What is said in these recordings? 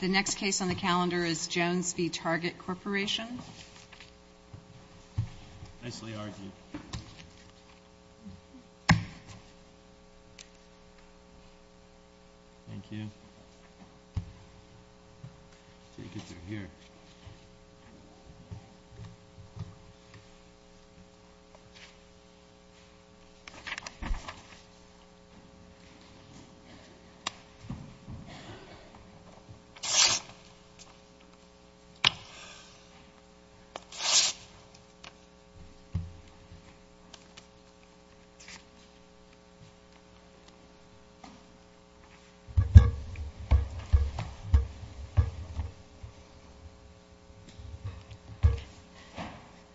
The next case on the calendar is Jones v. Target Corporation.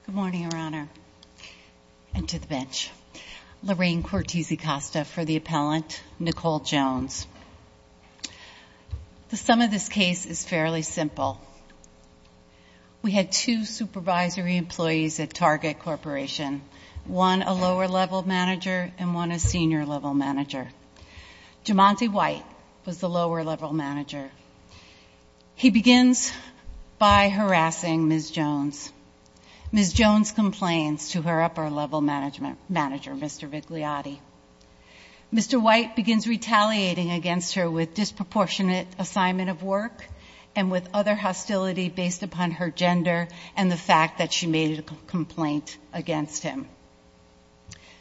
Good morning, Your Honor. And to the bench, Lorraine Cortese-Costa for the appellant, Nicole Jones. The sum of this case is fairly simple. We had two supervisory employees at Target Corporation, one a lower-level manager and one a senior-level manager. Jumante White was the lower-level manager. He begins by harassing Ms. Jones. Ms. Jones complains to her upper-level manager, Mr. Vigliotti. Mr. White begins retaliating against her with disproportionate assignment of work and with other hostility based upon her gender and the fact that she made a complaint against him.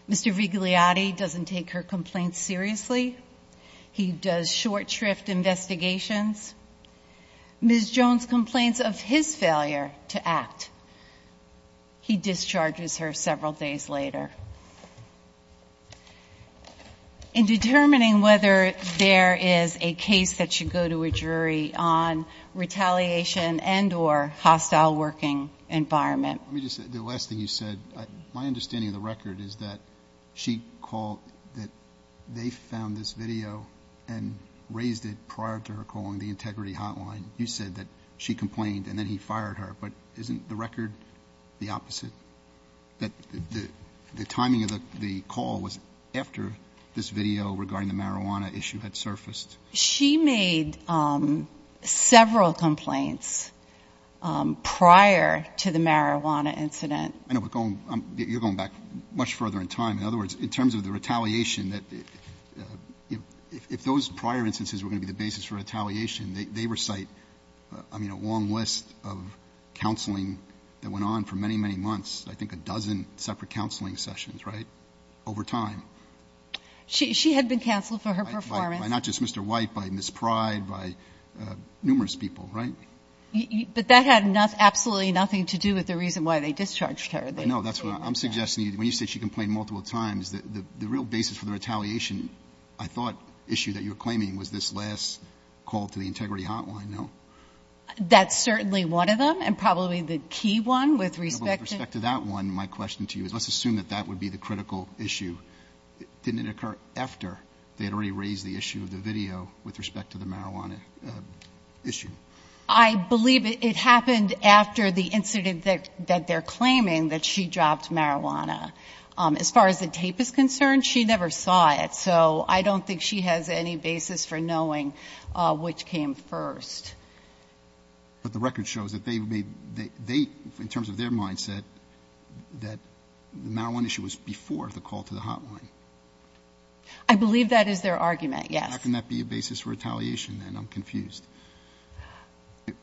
Mr. Vigliotti doesn't take her complaints seriously. He does short shrift investigations. Ms. Jones complains of his failure to act. He discharges her several days later. In determining whether there is a case that should go to a jury on retaliation and or hostile working environment. Let me just say, the last thing you said, my understanding of the record is that she called that they found this video and raised it prior to her calling the integrity hotline. You said that she complained and then he fired her. But isn't the record the opposite? That the timing of the call was after this video regarding the marijuana issue had surfaced? She made several complaints prior to the marijuana incident. I know, but you're going back much further in time. In other words, in terms of the retaliation, if those prior instances were going to be the basis for retaliation, they recite a long list of counseling that went on for many, many months, I think a dozen separate counseling sessions, right, over time. She had been counseled for her performance. By not just Mr. White, by Ms. Pride, by numerous people, right? But that had absolutely nothing to do with the reason why they discharged her. No, that's what I'm suggesting. When you say she complained multiple times, the real basis for the retaliation, I thought, issue that you're claiming was this last call to the integrity hotline, no? That's certainly one of them and probably the key one with respect to With respect to that one, my question to you is let's assume that that would be the critical issue. Didn't it occur after they had already raised the issue of the video with respect to the marijuana issue? I believe it happened after the incident that they're claiming that she dropped marijuana. As far as the tape is concerned, she never saw it. So I don't think she has any basis for knowing which came first. But the record shows that they made, in terms of their mindset, that the marijuana issue was before the call to the hotline. I believe that is their argument, yes. How can that be a basis for retaliation then? I'm confused.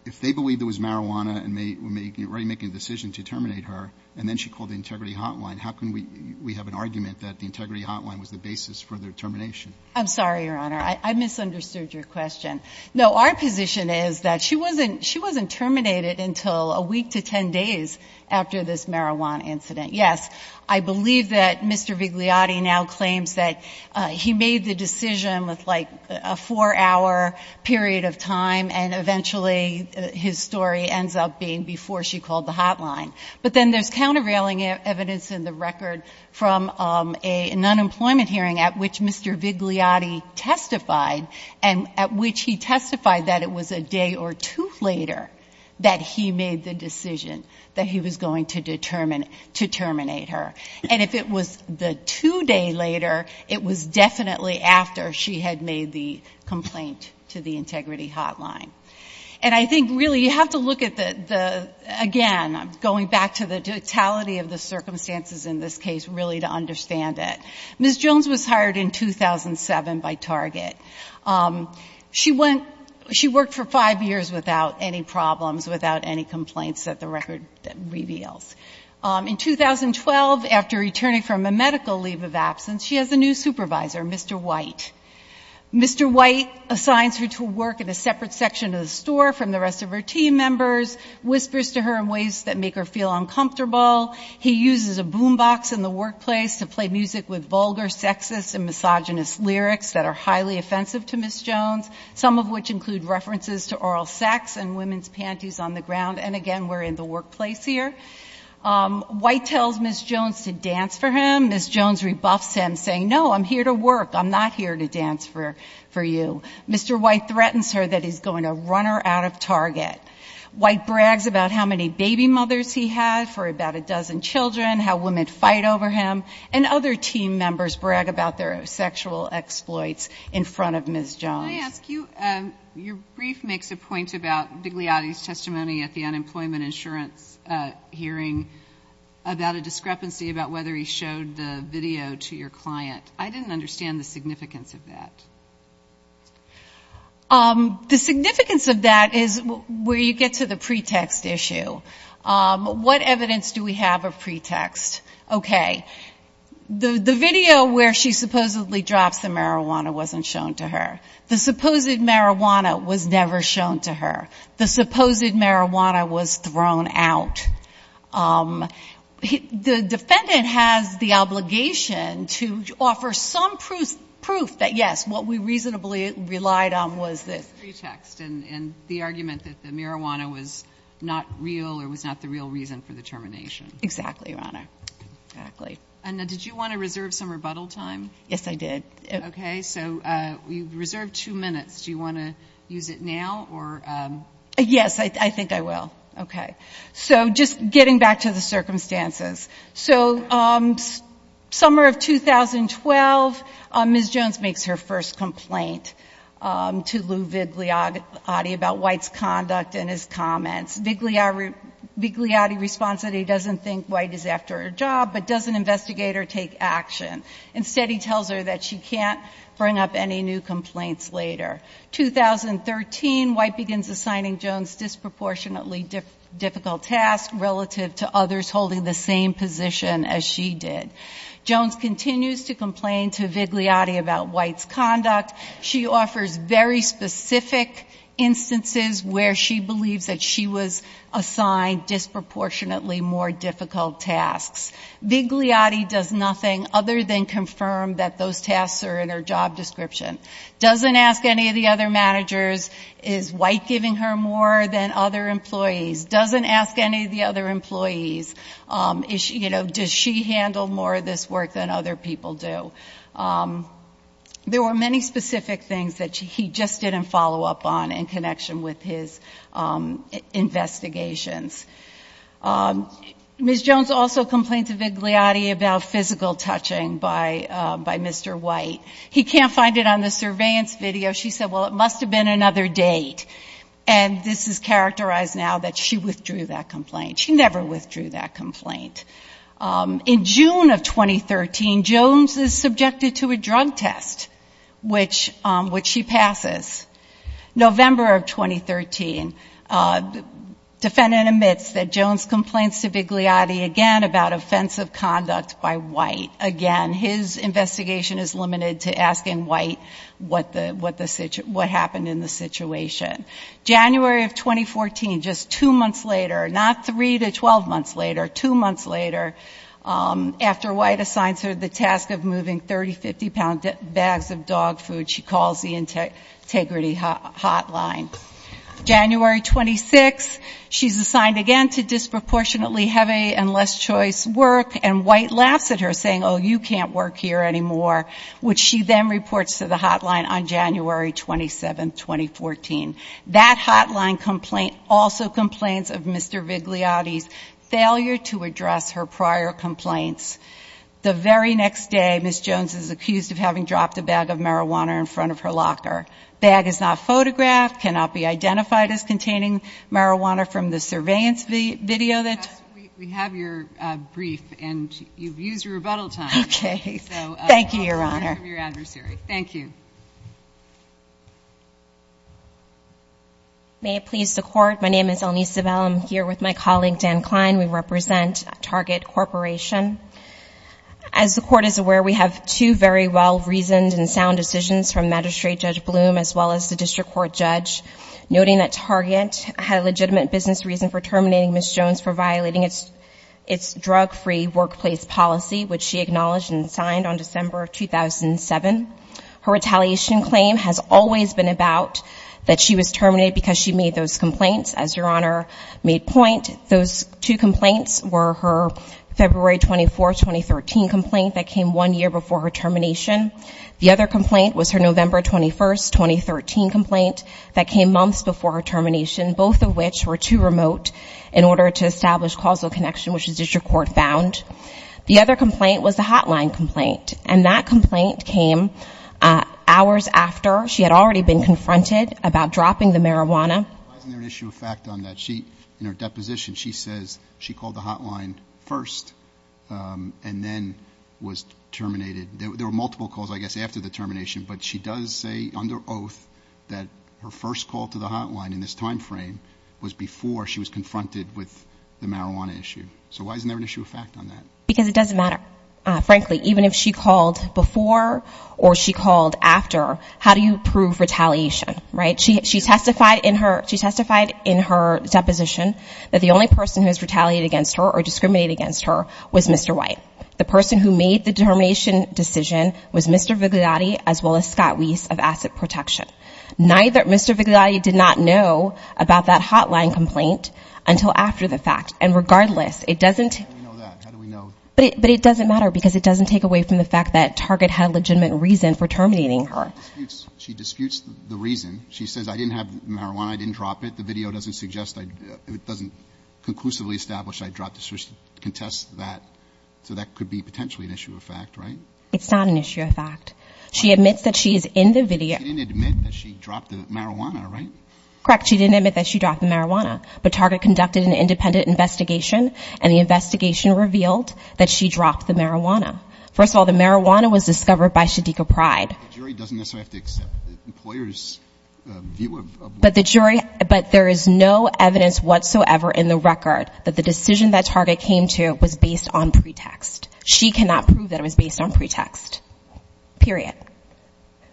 If they believed it was marijuana and were already making a decision to terminate her and then she called the integrity hotline, how can we have an argument that the integrity hotline was the basis for their termination? I'm sorry, Your Honor. I misunderstood your question. No, our position is that she wasn't terminated until a week to 10 days after this marijuana incident. Yes, I believe that Mr. Vigliotti now claims that he made the decision with like a four-hour period of time and eventually his story ends up being before she called the hotline. But then there's countervailing evidence in the record from an unemployment hearing at which Mr. Vigliotti testified and at which he testified that it was a day or two later that he made the decision that he was going to terminate her. And if it was the two day later, it was definitely after she had made the complaint to the integrity hotline. And I think really you have to look at the, again, going back to the totality of the circumstances in this case really to understand it. Ms. Jones was hired in 2007 by Mr. Vigliotti. I don't have any complaints that the record reveals. In 2012, after returning from a medical leave of absence, she has a new supervisor, Mr. White. Mr. White assigns her to work in a separate section of the store from the rest of her team members, whispers to her in ways that make her feel uncomfortable. He uses a boom box in the workplace to play music with vulgar, sexist and misogynist lyrics that are highly offensive to Ms. Jones, some of which include references to oral sex and women's panties on the ground. And again, we're in the workplace here. White tells Ms. Jones to dance for him. Ms. Jones rebuffs him, saying, no, I'm here to work. I'm not here to dance for you. Mr. White threatens her that he's going to run her out of Target. White brags about how many baby mothers he had for about a dozen children, how women fight over him. And other team members brag about their sexual exploits in front of Ms. Jones. Can I ask you, your brief makes a point about Degliati's testimony at the unemployment insurance hearing about a discrepancy about whether he showed the video to your client. I didn't understand the significance of that. The significance of that is where you get to the pretext issue. What evidence do we have of pretext? Okay. The video where she supposedly drops the marijuana wasn't shown to her. The supposed marijuana was never shown to her. The supposed marijuana was thrown out. The defendant has the obligation to offer some proof that, yes, what we reasonably relied on was this. Pretext and the argument that the marijuana was not real or was not the real reason for the termination. Exactly, Your Honor. Exactly. And did you want to reserve some rebuttal time? Yes, I did. Okay. So you reserved two minutes. Do you want to use it now or? Yes, I think I will. Okay. So just getting back to the circumstances. So summer of 2012, Ms. Jones makes her first complaint to Lou Vigliati about White's conduct and his comments. Vigliati responds that he doesn't think White is after her job, but doesn't investigate or take action. Instead, he tells her that she can't bring up any new complaints later. 2013, White begins assigning Jones disproportionately difficult tasks relative to others holding the same position as she did. Jones continues to complain to Vigliati about White's conduct. She offers very specific instances where she believes that she was assigned disproportionately more difficult tasks. Vigliati does nothing other than confirm that those tasks are in her job description. Doesn't ask any of the other managers, is White giving her more than other employees? Doesn't ask any of the other employees, you know, does she handle more of this work than other people do? There were many specific things that he just didn't follow up on in connection with his investigations. Ms. Jones also complained to Vigliati about physical touching by Mr. White. He can't find it on the surveillance video. She said, well, it must have been another date. And this is characterized now that she withdrew that complaint. She never withdrew that complaint. In June of 2013, Jones is subjected to a drug test, which she passes. November of 2013, defendant admits that Jones complains to Vigliati again about offensive conduct by White. Again, his investigation is limited to asking White what happened in the situation. January of 2014, just two months later, not three to 12 months later, two months later, after White assigns her the task of moving 30, 50-pound bags of dog food, she calls the Integrity Hotline. January 26, she's assigned again to disproportionately heavy and less choice work, and White laughs at her, saying, oh, you can't work here anymore, which she then reports to the hotline on January 27, 2014. That hotline complaint also complains of Mr. Vigliati's failure to address her prior complaints. The very next day, Ms. Jones is accused of having dropped a bag of marijuana in front of her locker. The bag is not photographed, cannot be identified as containing marijuana from the surveillance video that you've seen. MS. JONES. Yes, we have your brief, and you've used your rebuttal time. MS. ELNISE ZEBEL. Okay. Thank you, Your Honor. MS. JONES. So I'll turn it over to your adversary. Thank you. MS. ELNISE ZEBEL. May it please the Court, my name is Elnise Zebel. I'm here with my colleague, Dan Kline. We represent Target Corporation. As the Court is aware, we have two very well-reasoned and sound decisions from Magistrate Judge Bloom, as well as the District Court judge, noting that Target had a legitimate business reason for terminating Ms. Jones for violating its drug-free workplace policy, which she acknowledged and signed on December 2007. Her retaliation claim has always been about that she was terminated because she made those complaints. As Your Honor made point, those two complaints were her February 24, 2013 complaint that came one year before her termination. The other complaint was her November 21, 2013 complaint that came months before her termination, both of which were too remote in order to establish causal connection, which the District Court found. The other complaint was the hotline complaint, and that complaint came hours after she had already been confronted about dropping the marijuana. Why isn't there an issue of fact on that? In her deposition, she says she called the hotline first and then was terminated. There were multiple calls, I guess, after the termination, but she does say under oath that her first call to the hotline in this time frame was before she was confronted with the marijuana issue. So why isn't there an issue of fact on that? Because it doesn't matter. Frankly, even if she called before or she called after, how do you prove retaliation, right? She testified in her, she testified in her deposition that the only person who has retaliated against her or discriminated against her was Mr. White. The person who made the termination decision was Mr. Vigliotti as well as Scott Weiss of Asset Protection. Neither Mr. Vigliotti did not know about that hotline complaint until after the fact. And regardless, it doesn't... How do we know that? How do we know? But it doesn't matter because it doesn't take away from the fact that Target had legitimate reason for terminating her. She disputes the reason. She says, I didn't have marijuana, I didn't drop it. The video doesn't suggest, it doesn't conclusively establish I dropped it. So she contests that. So that could be potentially an issue of fact, right? It's not an issue of fact. She admits that she is in the video. She didn't admit that she dropped the marijuana, right? Correct. She didn't admit that she dropped the marijuana. But Target conducted an independent investigation and the investigation revealed that she dropped the marijuana. First of all, the marijuana was discovered by Shadiqa Pride. The jury doesn't necessarily have to accept the employer's view of... But the jury, but there is no evidence whatsoever in the record that the decision that Target came to was based on pretext. She cannot prove that it was based on pretext. Period.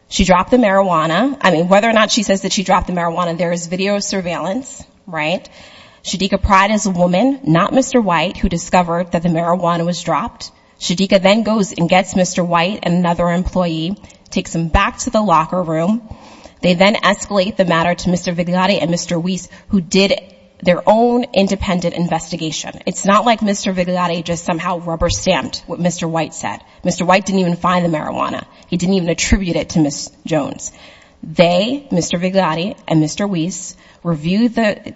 She dropped the marijuana. I mean, whether or not she says that she dropped the marijuana, there is video surveillance, right? Shadiqa Pride is a woman, not Mr. White, who discovered that the marijuana was dropped. Shadiqa then goes and gets Mr. White, another employee, takes him back to the locker room. They then escalate the matter to Mr. Vigliotti and Mr. Weiss, who did their own independent investigation. It's not like Mr. Vigliotti just somehow rubber-stamped what Mr. White said. Mr. White didn't even find the marijuana. He didn't even attribute it to Ms. Jones. They, Mr. Vigliotti and Mr. Weiss, reviewed the...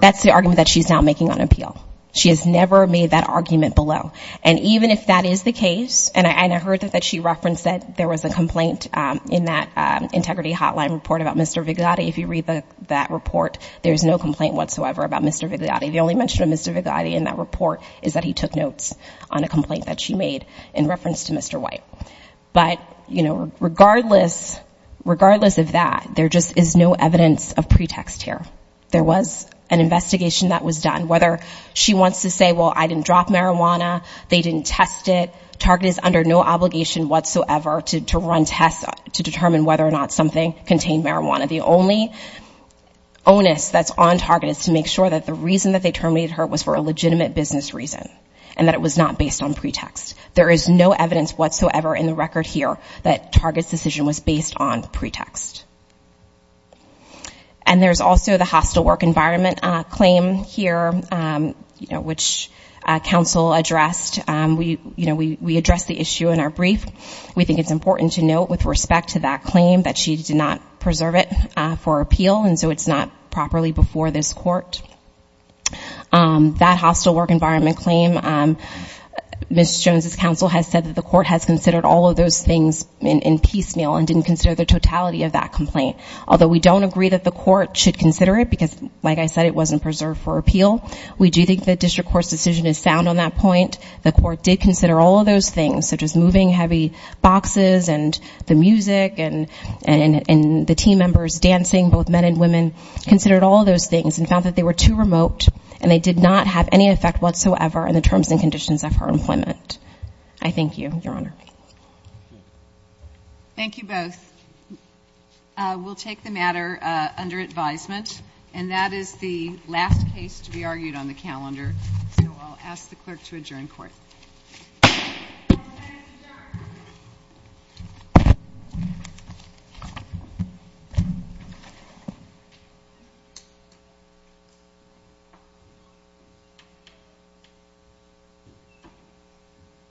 That's the argument that she's now making on appeal. She has never made that argument below. And even if that is the case, and I heard that she referenced that there was a complaint in that Integrity Hotline report about Mr. Vigliotti. If you read that report, there's no complaint whatsoever about Mr. Vigliotti. The only mention of Mr. Vigliotti in that report is that he took notes on a complaint that she made in reference to Mr. here. There was an investigation that was done. Whether she wants to say, well, I didn't drop marijuana, they didn't test it, Target is under no obligation whatsoever to run tests to determine whether or not something contained marijuana. The only onus that's on Target is to make sure that the reason that they terminated her was for a legitimate business reason, and that it was not based on pretext. There is no evidence whatsoever in the record here that Target's decision was based on pretext. And there's also the hostile work environment claim here, which counsel addressed. We addressed the issue in our brief. We think it's important to note with respect to that claim that she did not preserve it for appeal, and so it's not properly before this court. That hostile work environment claim, Ms. Jones' counsel has said that the court has considered all of those things in piecemeal and didn't consider the totality of that complaint, although we don't agree that the court should consider it because, like I said, it wasn't preserved for appeal. We do think the district court's decision is sound on that point. The court did consider all of those things, such as moving heavy boxes and the music and the team members dancing, both men and women, considered all of those things and found that they were too remote and they did not have any effect whatsoever on the terms and conditions of her employment. I thank you, Your Honor. Thank you both. We'll take the matter under advisement, and that is the last case to be argued on the calendar, so I'll ask the clerk to adjourn court. Thank you.